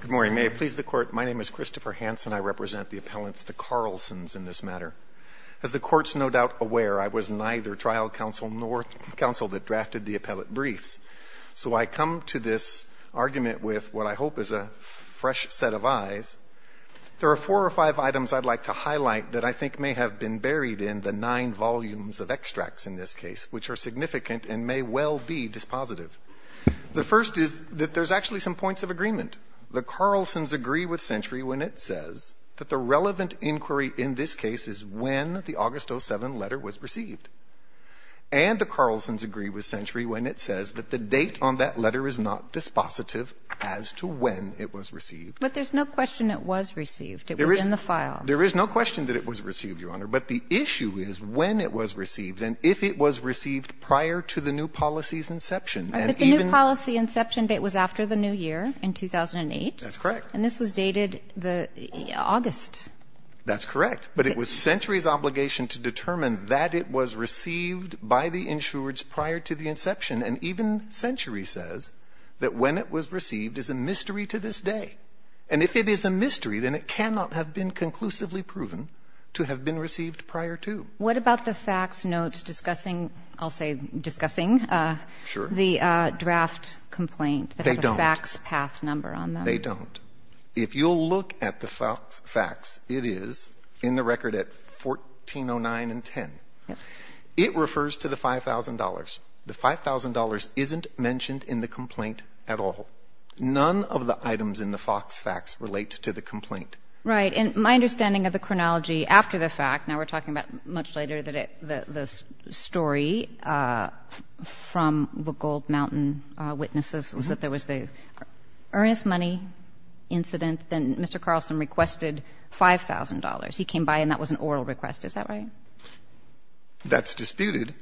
Good morning. May it please the Court, my name is Christopher Hanson. I represent the appellants, the Carlsons in this matter. As the Court's no doubt aware, I was neither trial counsel nor counsel that drafted the appellate briefs. So I come to this argument with what I hope is a fresh set of eyes. There are four or five items I'd like to highlight that I think may have been buried in the nine volumes of extracts in this case, which are significant and may well be dispositive. The first is that there's actually some points of agreement. The Carlsons agree with Century when it says that the relevant inquiry in this case is when the August 07 letter was received. And the Carlsons agree with Century when it says that the date on that letter is not dispositive as to when it was received. But there's no question it was received. It was in the file. There is no question that it was received, Your Honor. But the issue is when it was received and if it was received prior to the new policy's inception. But the new policy inception date was after the new year in 2008. That's correct. And this was dated August. That's correct. But it was Century's obligation to determine that it was received by the insureds prior to the inception. And even Century says that when it was received is a mystery to this day. And if it is a mystery, then it cannot have been conclusively proven to have been received prior to. What about the fax notes discussing, I'll say discussing the draft complaint? They don't. They have a fax path number on them. They don't. If you'll look at the fax, it is in the record at 1409 and 10. It refers to the $5,000. The $5,000 isn't mentioned in the complaint at all. None of the items in the fax relate to the complaint. Right. And my understanding of the chronology after the fact, now we're talking about much later, the story from the Gold Mountain witnesses was that there was the earnest money incident, then Mr. Carlson requested $5,000. He came by and that was an oral request. Is that right? That's disputed.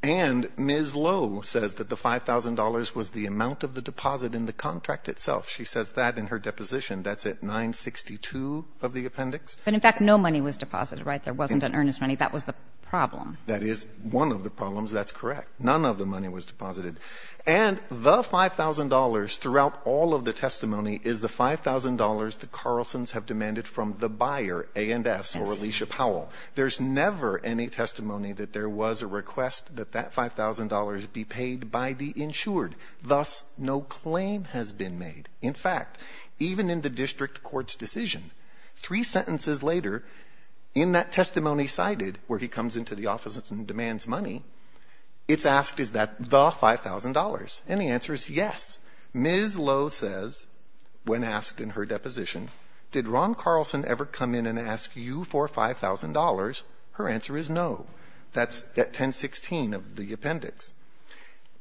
And Ms. Lowe says that the $5,000 was the amount of the deposit in the contract itself. She says that in her deposition. That's at 962 of the appendix. But, in fact, no money was deposited, right? There wasn't an earnest money. That was the problem. That is one of the problems. That's correct. None of the money was deposited. And the $5,000 throughout all of the testimony is the $5,000 that Carlsons have demanded from the buyer, A&S, or Alicia Powell. There's never any testimony that there was a request that that $5,000 be paid by the insured. Thus, no claim has been made. In fact, even in the district court's decision, three sentences later, in that testimony cited, where he comes into the office and demands money, it's asked, is that the $5,000? And the answer is yes. Ms. Lowe says, when asked in her deposition, did Ron Carlson ever come in and ask you for $5,000? Her answer is no. That's at 1016 of the appendix.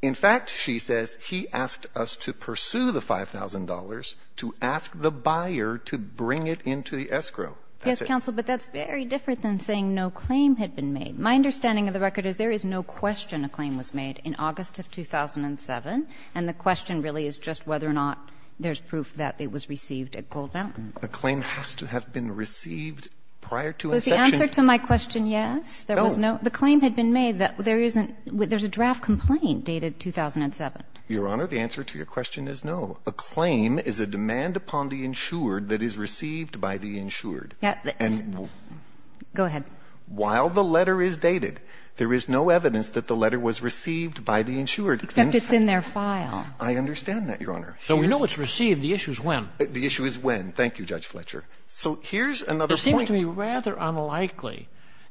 In fact, she says, he asked us to pursue the $5,000 to ask the buyer to bring it into the escrow. That's it. Yes, counsel, but that's very different than saying no claim had been made. My understanding of the record is there is no question a claim was made in August of 2007. And the question really is just whether or not there's proof that it was received at Gold Mountain. A claim has to have been received prior to inception. Was the answer to my question yes? No. The claim had been made that there is a draft complaint dated 2007. Your Honor, the answer to your question is no. A claim is a demand upon the insured that is received by the insured. Go ahead. While the letter is dated, there is no evidence that the letter was received by the insured. Except it's in their file. I understand that, Your Honor. So we know it's received. The issue is when. The issue is when. Thank you, Judge Fletcher. So here's another point. It seems to me rather unlikely,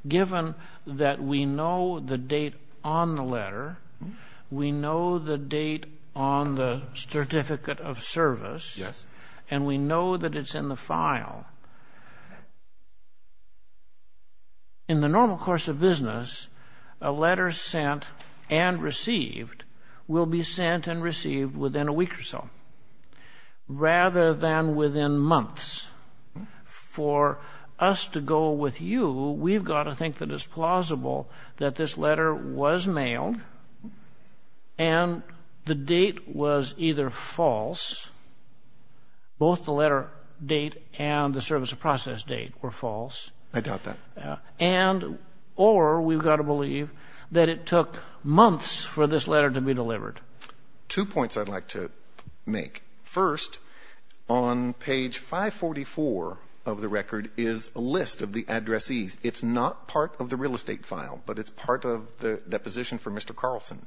given that we know the date on the letter, we know the date on the certificate of service. Yes. And we know that it's in the file. In the normal course of business, a letter sent and received will be sent and received within a week or so rather than within months. For us to go with you, we've got to think that it's plausible that this letter was mailed and the date was either false, both the letter date and the service of process date were false. I doubt that. And or we've got to believe that it took months for this letter to be delivered. Two points I'd like to make. First, on page 544 of the record is a list of the addressees. It's not part of the real estate file, but it's part of the deposition for Mr. Carlson.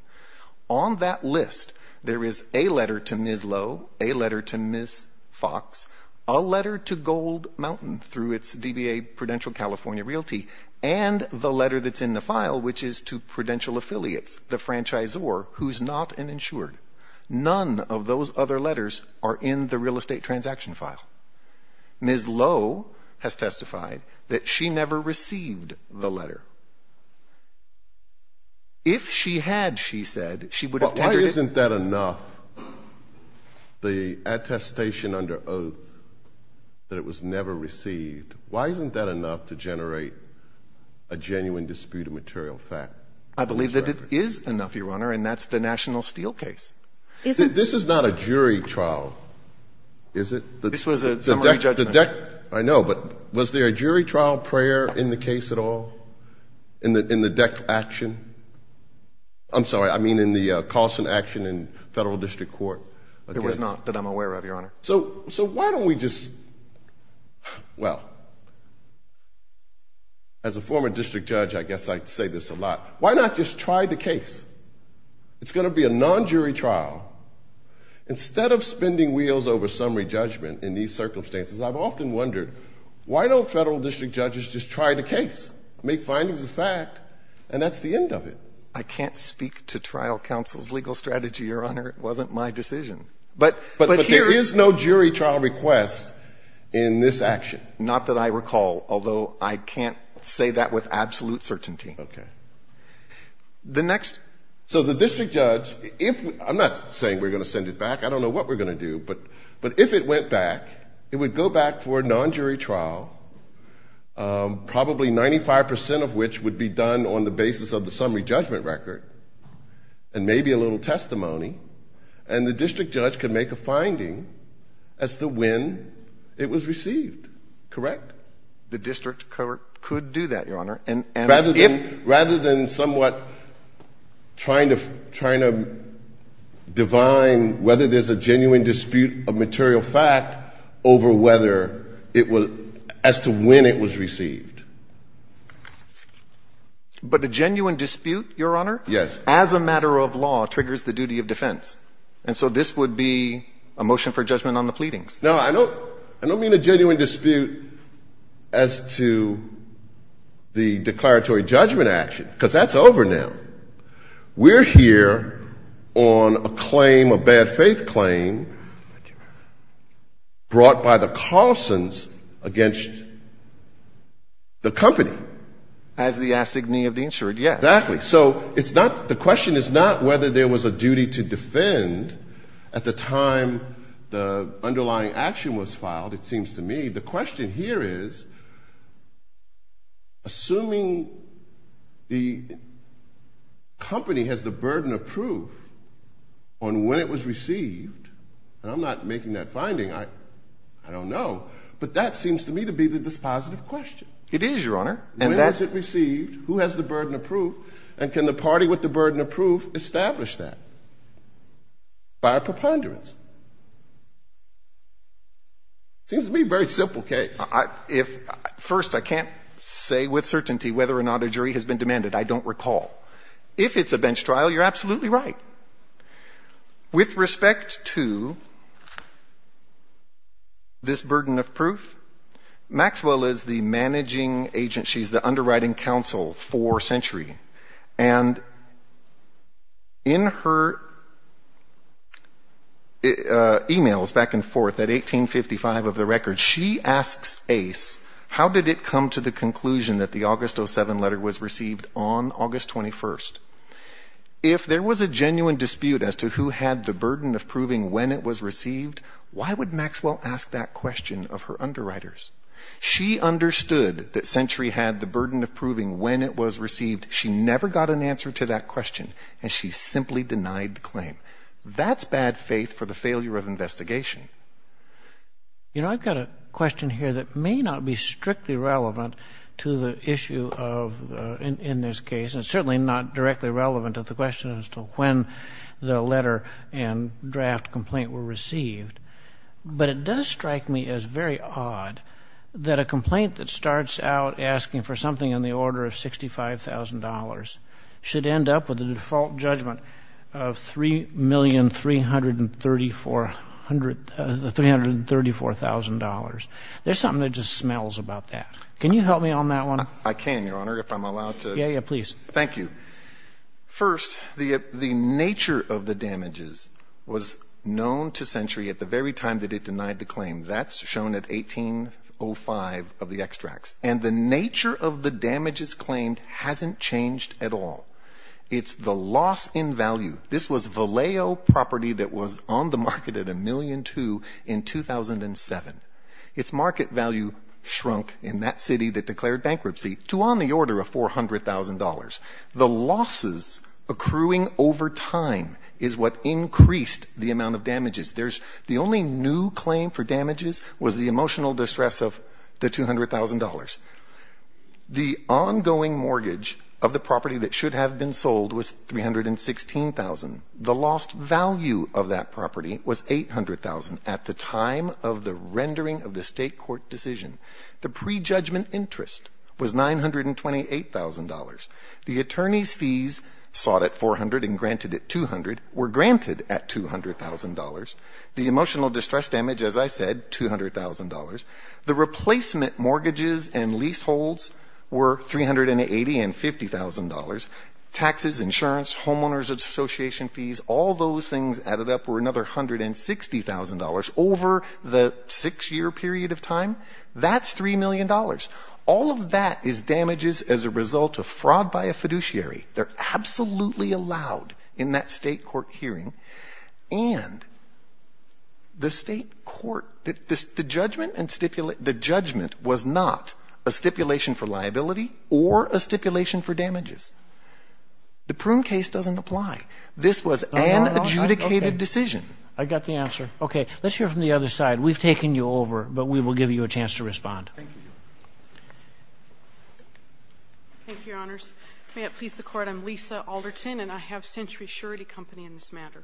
On that list, there is a letter to Ms. Lowe, a letter to Ms. Fox, a letter to Gold Mountain through its DBA Prudential California Realty, and the letter that's in the file, which is to Prudential Affiliates, the franchisor who's not an insured. None of those other letters are in the real estate transaction file. Ms. Lowe has testified that she never received the letter. If she had, she said, she would have tendered it. But why isn't that enough? The attestation under oath that it was never received, why isn't that enough to generate a genuine dispute of material fact? I believe that it is enough, Your Honor, and that's the National Steel case. This is not a jury trial, is it? This was a summary judgment. I know, but was there a jury trial prayer in the case at all? In the death action? I'm sorry, I mean in the Carlson action in federal district court? It was not that I'm aware of, Your Honor. So why don't we just, well, as a former district judge, I guess I say this a lot. Why not just try the case? It's going to be a non-jury trial. Instead of spending wheels over summary judgment in these circumstances, make findings of fact, and that's the end of it. I can't speak to trial counsel's legal strategy, Your Honor. It wasn't my decision. But there is no jury trial request in this action. Not that I recall, although I can't say that with absolute certainty. Okay. So the district judge, I'm not saying we're going to send it back. I don't know what we're going to do. But if it went back, it would go back for a non-jury trial, probably 95% of which would be done on the basis of the summary judgment record and maybe a little testimony, and the district judge could make a finding as to when it was received. Correct? The district could do that, Your Honor. Rather than somewhat trying to divine whether there's a genuine dispute of material fact over whether it was as to when it was received. But a genuine dispute, Your Honor? Yes. As a matter of law, triggers the duty of defense. And so this would be a motion for judgment on the pleadings. No, I don't mean a genuine dispute as to the declaratory judgment action, because that's over now. We're here on a claim, a bad faith claim brought by the Carlsons against the company. As the assignee of the insured, yes. Exactly. So it's not, the question is not whether there was a duty to defend at the time the underlying action was filed, it seems to me. The question here is, assuming the company has the burden of proof on when it was received, and I'm not making that finding, I don't know. But that seems to me to be the dispositive question. It is, Your Honor. When was it received? Who has the burden of proof? And can the party with the burden of proof establish that by a preponderance? Seems to be a very simple case. First, I can't say with certainty whether or not a jury has been demanded. I don't recall. If it's a bench trial, you're absolutely right. With respect to this burden of proof, Maxwell is the managing agent. She's the underwriting counsel for Century. And in her e-mails back and forth at 1855 of the record, she asks Ace, how did it come to the conclusion that the August 07 letter was received on August 21st? If there was a genuine dispute as to who had the burden of proving when it was received, why would Maxwell ask that question of her underwriters? She understood that Century had the burden of proving when it was received. She never got an answer to that question, and she simply denied the claim. That's bad faith for the failure of investigation. You know, I've got a question here that may not be strictly relevant to the issue of in this case, and certainly not directly relevant to the question as to when the letter and draft complaint were received. But it does strike me as very odd that a complaint that starts out asking for something in the order of $65,000 should end up with a default judgment of $3,334,000. There's something that just smells about that. Can you help me on that one? I can, Your Honor, if I'm allowed to. Yeah, yeah, please. Thank you. First, the nature of the damages was known to Century at the very time that it denied the claim. That's shown at 1805 of the extracts. And the nature of the damages claimed hasn't changed at all. It's the loss in value. This was Vallejo property that was on the market at $1.2 million in 2007. Its market value shrunk in that city that declared bankruptcy to on the order of $400,000. The losses accruing over time is what increased the amount of damages. The only new claim for damages was the emotional distress of the $200,000. The ongoing mortgage of the property that should have been sold was $316,000. The lost value of that property was $800,000 at the time of the rendering of the state court decision. The prejudgment interest was $928,000. The attorney's fees sought at $400,000 and granted at $200,000 were granted at $200,000. The emotional distress damage, as I said, $200,000. The replacement mortgages and leaseholds were $380,000 and $50,000. Taxes, insurance, homeowners association fees, all those things added up for another $160,000 over the six-year period of time. That's $3 million. All of that is damages as a result of fraud by a fiduciary. They're absolutely allowed in that state court hearing. And the state court, the judgment was not a stipulation for liability or a stipulation for damages. The Prune case doesn't apply. This was an adjudicated decision. I got the answer. Okay. Let's hear from the other side. We've taken you over, but we will give you a chance to respond. Thank you. Thank you, Your Honors. May it please the Court, I'm Lisa Alderton, and I have Century Surety Company in this matter.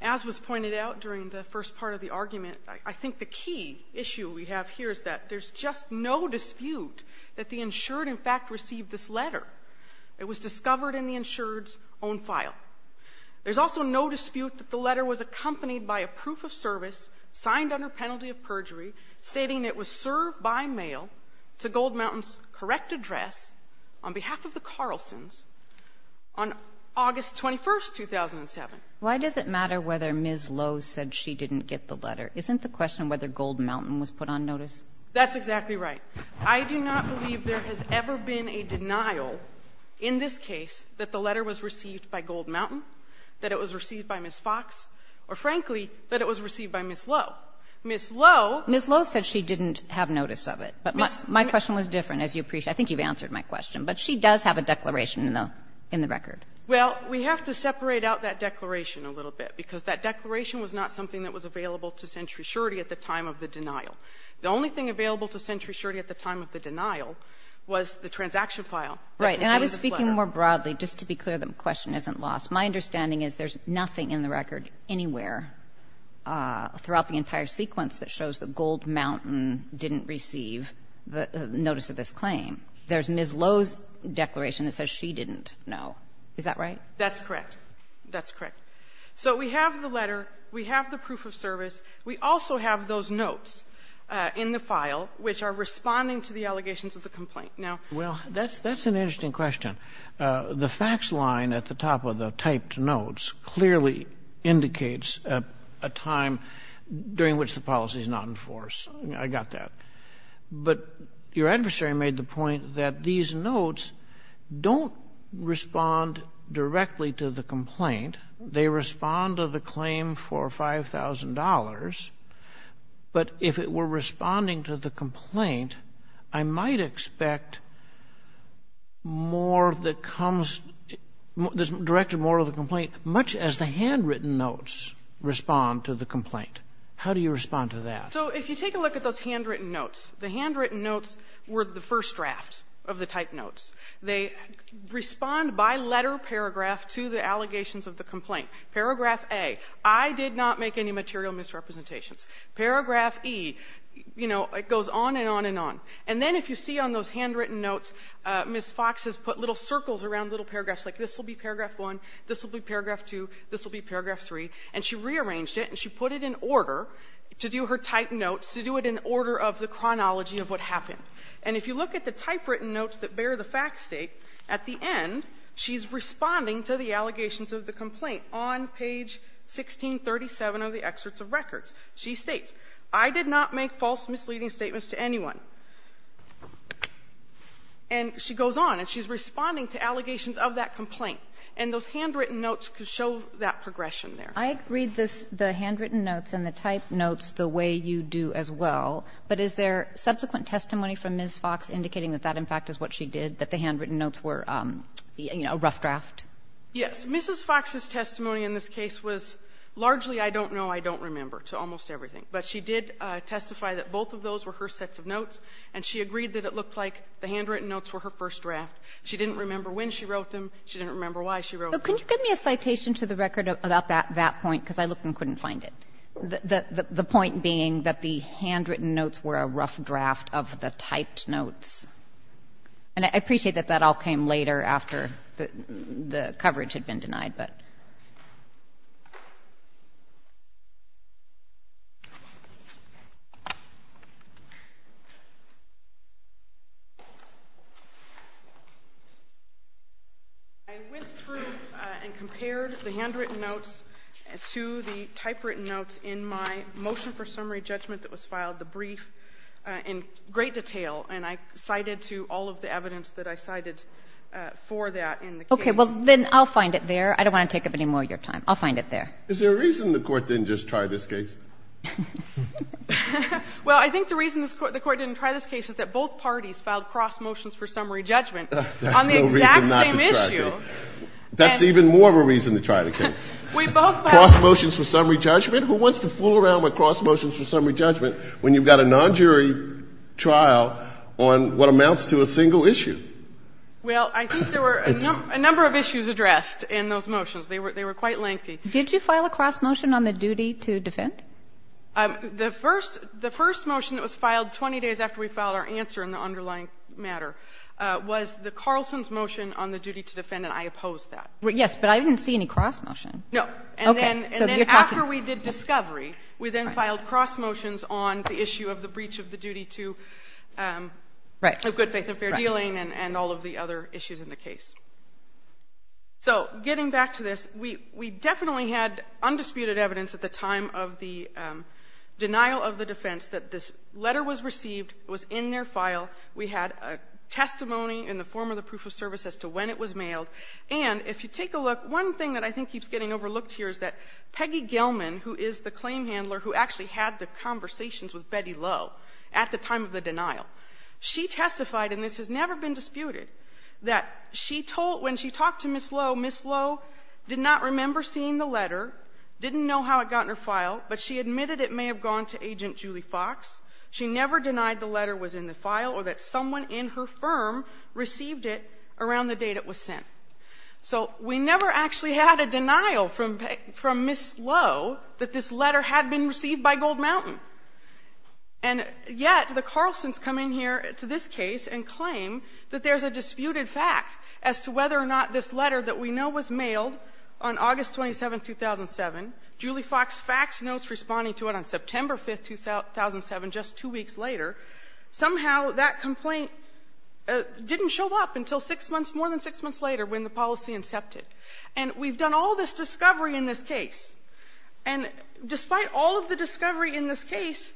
As was pointed out during the first part of the argument, I think the key issue we have here is that there's just no dispute that the insured, in fact, received this letter. It was discovered in the insured's own file. There's also no dispute that the letter was accompanied by a proof of service signed under penalty of perjury, stating it was served by mail to Gold Mountain's correct address on behalf of the Carlsons on August 21, 2007. Why does it matter whether Ms. Lowe said she didn't get the letter? Isn't the question whether Gold Mountain was put on notice? That's exactly right. I do not believe there has ever been a denial in this case that the letter was received by Gold Mountain, that it was received by Ms. Fox, or frankly, that it was received by Ms. Lowe. Ms. Lowe ---- Ms. Lowe said she didn't have notice of it. But my question was different, as you appreciate. I think you've answered my question. But she does have a declaration in the record. Well, we have to separate out that declaration a little bit, because that declaration was not something that was available to Century Surety at the time of the denial. The only thing available to Century Surety at the time of the denial was the transaction file that contained this letter. Right. And I was speaking more broadly. Just to be clear, the question isn't lost. My understanding is there's nothing in the record anywhere throughout the entire sequence that shows that Gold Mountain didn't receive the notice of this claim. There's Ms. Lowe's declaration that says she didn't know. Is that right? That's correct. That's correct. So we have the letter. We have the proof of service. We also have those notes in the file which are responding to the allegations of the complaint. Now ---- Well, that's an interesting question. The fax line at the top of the typed notes clearly indicates a time during which the policy is not in force. I got that. But your adversary made the point that these notes don't respond directly to the complaint. They respond to the claim for $5,000. But if it were responding to the complaint, I might expect more that comes ---- directed more to the complaint, much as the handwritten notes respond to the complaint. How do you respond to that? So if you take a look at those handwritten notes, the handwritten notes were the first draft of the typed notes. They respond by letter paragraph to the allegations of the complaint. Paragraph A, I did not make any material misrepresentations. Paragraph E, you know, it goes on and on and on. And then if you see on those handwritten notes, Ms. Fox has put little circles around little paragraphs like this will be paragraph 1, this will be paragraph 2, this will be paragraph 3. And she rearranged it and she put it in order to do her typed notes to do it in order of the chronology of what happened. And if you look at the typewritten notes that bear the fact state, at the end she's responding to the allegations of the complaint on page 1637 of the excerpts of records. She states, I did not make false misleading statements to anyone. And she goes on and she's responding to allegations of that complaint. And those handwritten notes show that progression there. I read the handwritten notes and the typed notes the way you do as well, but is there a subsequent testimony from Ms. Fox indicating that that, in fact, is what she did, that the handwritten notes were, you know, a rough draft? Yes. Mrs. Fox's testimony in this case was largely I don't know, I don't remember to almost everything. But she did testify that both of those were her sets of notes and she agreed that it looked like the handwritten notes were her first draft. She didn't remember when she wrote them. She didn't remember why she wrote them. But can you give me a citation to the record about that point, because I looked and couldn't find it. The point being that the handwritten notes were a rough draft of the typed notes. And I appreciate that that all came later after the coverage had been denied, but. I went through and compared the handwritten notes to the typewritten notes in my motion for summary judgment that was filed, the brief, in great detail. And I cited to all of the evidence that I cited for that in the case. Okay. Well, then I'll find it there. I don't want to take up any more of your time. I'll find it there. Is there a reason the Court didn't just try this case? Well, I think the reason the Court didn't try this case is that both parties filed cross motions for summary judgment on the exact same issue. There's no reason not to try the case. That's even more of a reason to try the case. We both filed. Cross motions for summary judgment. Who wants to fool around with cross motions for summary judgment when you've got a non-jury trial on what amounts to a single issue? Well, I think there were a number of issues addressed in those motions. They were quite lengthy. Did you file a cross motion on the duty to defend? The first motion that was filed 20 days after we filed our answer in the underlying matter was the Carlson's motion on the duty to defend, and I opposed that. Yes, but I didn't see any cross motion. No. Okay. And then after we did discovery, we then filed cross motions on the issue of the and all of the other issues in the case. So getting back to this, we definitely had undisputed evidence at the time of the denial of the defense that this letter was received, it was in their file, we had a testimony in the form of the proof of service as to when it was mailed, and if you take a look, one thing that I think keeps getting overlooked here is that Peggy Gelman, who is the claim handler who actually had the conversations with Betty Lowe at the time of the denial, she testified, and this has never been disputed, that she told when she talked to Ms. Lowe, Ms. Lowe did not remember seeing the letter, didn't know how it got in her file, but she admitted it may have gone to Agent Julie Fox. She never denied the letter was in the file or that someone in her firm received it around the date it was sent. So we never actually had a denial from Ms. Lowe that this letter had been received by Gold Mountain. And yet the Carlsons come in here to this case and claim that there's a disputed fact as to whether or not this letter that we know was mailed on August 27, 2007, Julie Fox faxed notes responding to it on September 5, 2007, just two weeks later. Somehow that complaint didn't show up until six months, more than six months later when the policy incepted. And we've done all this discovery in this case. And despite all of the discovery in this case,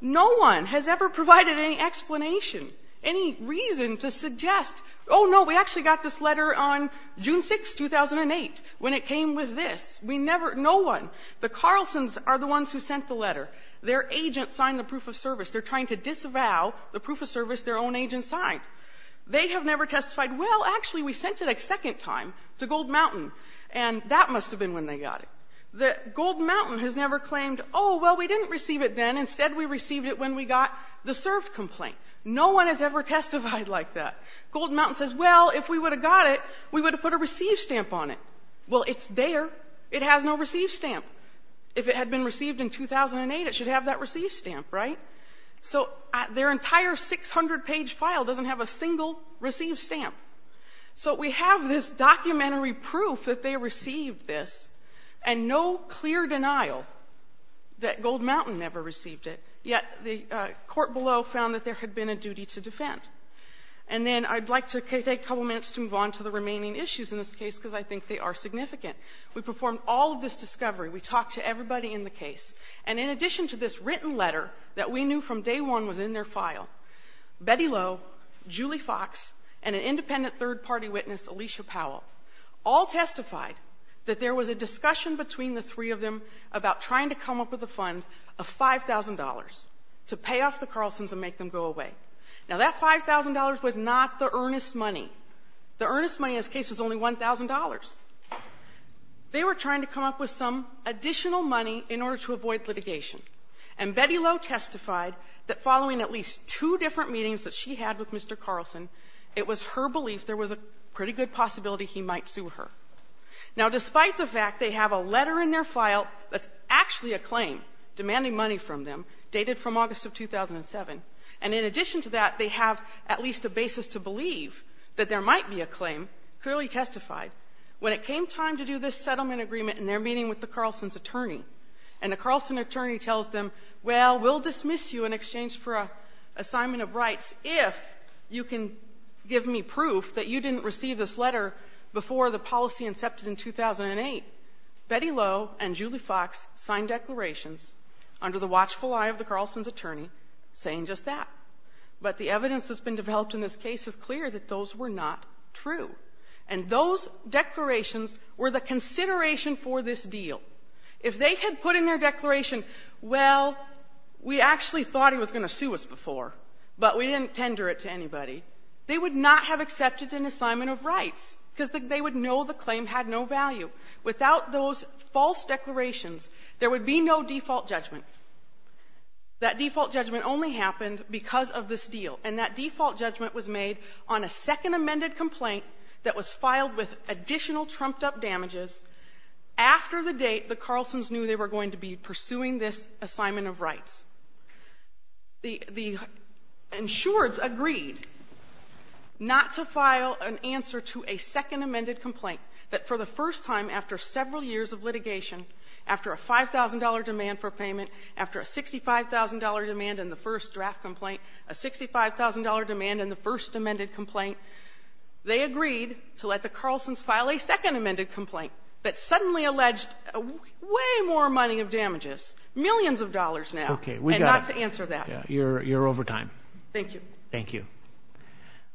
no one has ever provided any explanation, any reason to suggest, oh, no, we actually got this letter on June 6, 2008, when it came with this. We never, no one, the Carlsons are the ones who sent the letter. Their agent signed the proof of service. They're trying to disavow the proof of service their own agent signed. They have never testified, well, actually we sent it a second time to Gold Mountain, and that must have been when they got it. Gold Mountain has never claimed, oh, well, we didn't receive it then. Instead we received it when we got the served complaint. No one has ever testified like that. Gold Mountain says, well, if we would have got it, we would have put a receive stamp on it. Well, it's there. It has no receive stamp. If it had been received in 2008, it should have that receive stamp, right? So their entire 600-page file doesn't have a single receive stamp. So we have this documentary proof that they received this, and no clear denial that Gold Mountain never received it, yet the court below found that there had been a duty to defend. And then I'd like to take a couple minutes to move on to the remaining issues in this case, because I think they are significant. We performed all of this discovery. We talked to everybody in the case. And in addition to this written letter that we knew from day one was in their file, Betty Lowe, Julie Fox, and an independent third-party witness, Alicia Powell, all testified that there was a discussion between the three of them about trying to come up with a fund of $5,000 to pay off the Carlsons and make them go away. Now, that $5,000 was not the earnest money. The earnest money in this case was only $1,000. They were trying to come up with some additional money in order to avoid litigation. And Betty Lowe testified that following at least two different meetings that she had with Mr. Carlson, it was her belief there was a pretty good possibility he might sue her. Now, despite the fact they have a letter in their file that's actually a claim demanding money from them, dated from August of 2007, and in addition to that, they have at least a basis to believe that there might be a claim, clearly testified. When it came time to do this settlement agreement in their meeting with the Carlson's attorney, and the Carlson attorney tells them, well, we'll dismiss you in exchange for an assignment of rights if you can give me proof that you didn't receive this letter before the policy incepted in 2008, Betty Lowe and Julie Fox signed declarations under the watchful eye of the Carlson's attorney saying just that. But the evidence that's been developed in this case is clear that those were not true. And those declarations were the consideration for this deal. If they had put in their declaration, well, we actually thought he was going to sue us before, but we didn't tender it to anybody, they would not have accepted an assignment of rights, because they would know the claim had no value. Without those false declarations, there would be no default judgment. That default judgment only happened because of this deal. And that default judgment was made on a second amended complaint that was filed with additional trumped-up damages after the date the Carlson's knew they were going to be pursuing this assignment of rights. The insureds agreed not to file an answer to a second amended complaint, but for the first time after several years of litigation, after a $5,000 demand for payment, after a $65,000 demand in the first draft complaint, a $65,000 demand in the first amended complaint, they agreed to let the Carlson's file a second amended complaint, but suddenly alleged way more money of damages, millions of dollars now, and not to answer that. Okay. We got it. You're over time. Thank you. Thank you.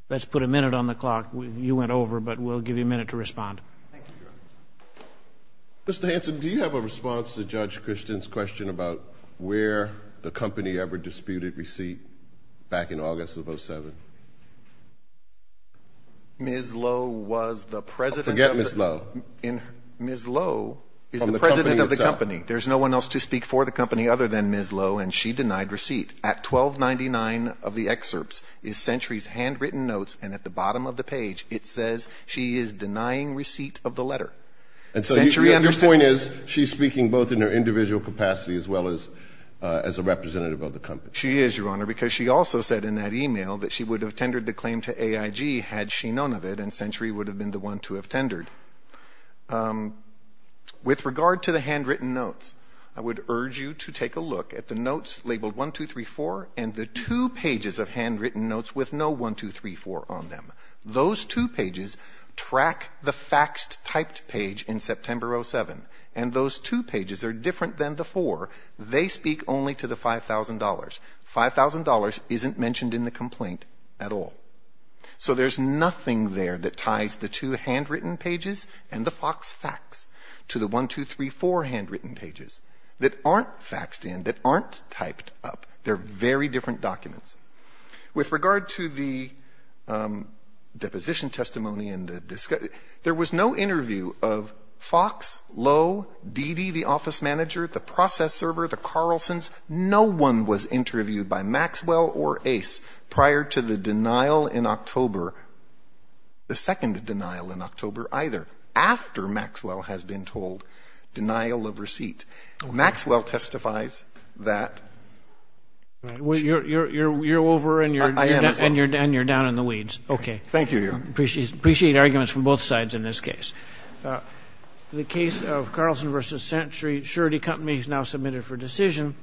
Let's put a minute on the clock. You went over, but we'll give you a minute to respond. Thank you, Your Honor. Mr. Hanson, do you have a response to Judge Christian's question about where the company ever disputed receipt back in August of 2007? Ms. Lowe was the president of the company. Forget Ms. Lowe. Ms. Lowe is the president of the company. There's no one else to speak for the company other than Ms. Lowe, and she denied receipt. At 1299 of the excerpts is Century's handwritten notes, and at the bottom of the page, it says she is denying receipt of the letter. And so your point is she's speaking both in her individual capacity as well as a representative of the company. She is, Your Honor, because she also said in that e-mail that she would have tendered the claim to AIG had she known of it, and Century would have been the one to have tendered. With regard to the handwritten notes, I would urge you to take a look at the notes labeled 1234 and the two pages of handwritten notes with no 1234 on them. Those two pages track the faxed typed page in September 07, and those two pages are different than the four. They speak only to the $5,000. $5,000 isn't mentioned in the complaint at all. So there's nothing there that ties the two handwritten pages and the fax facts to the 1234 handwritten pages that aren't faxed in, that aren't typed up. They're very different documents. With regard to the deposition testimony and the discussion, there was no interview of Fox, Lowe, Dede, the office manager, the process server, the Carlsons. No one was interviewed by Maxwell or Ace prior to the denial in October, the second denial in October either, after Maxwell has been told denial of receipt. Maxwell testifies that. You're over and you're down in the weeds. Okay. Thank you, Your Honor. Appreciate arguments from both sides in this case. The case of Carlson v. Century, surety company is now submitted for decision.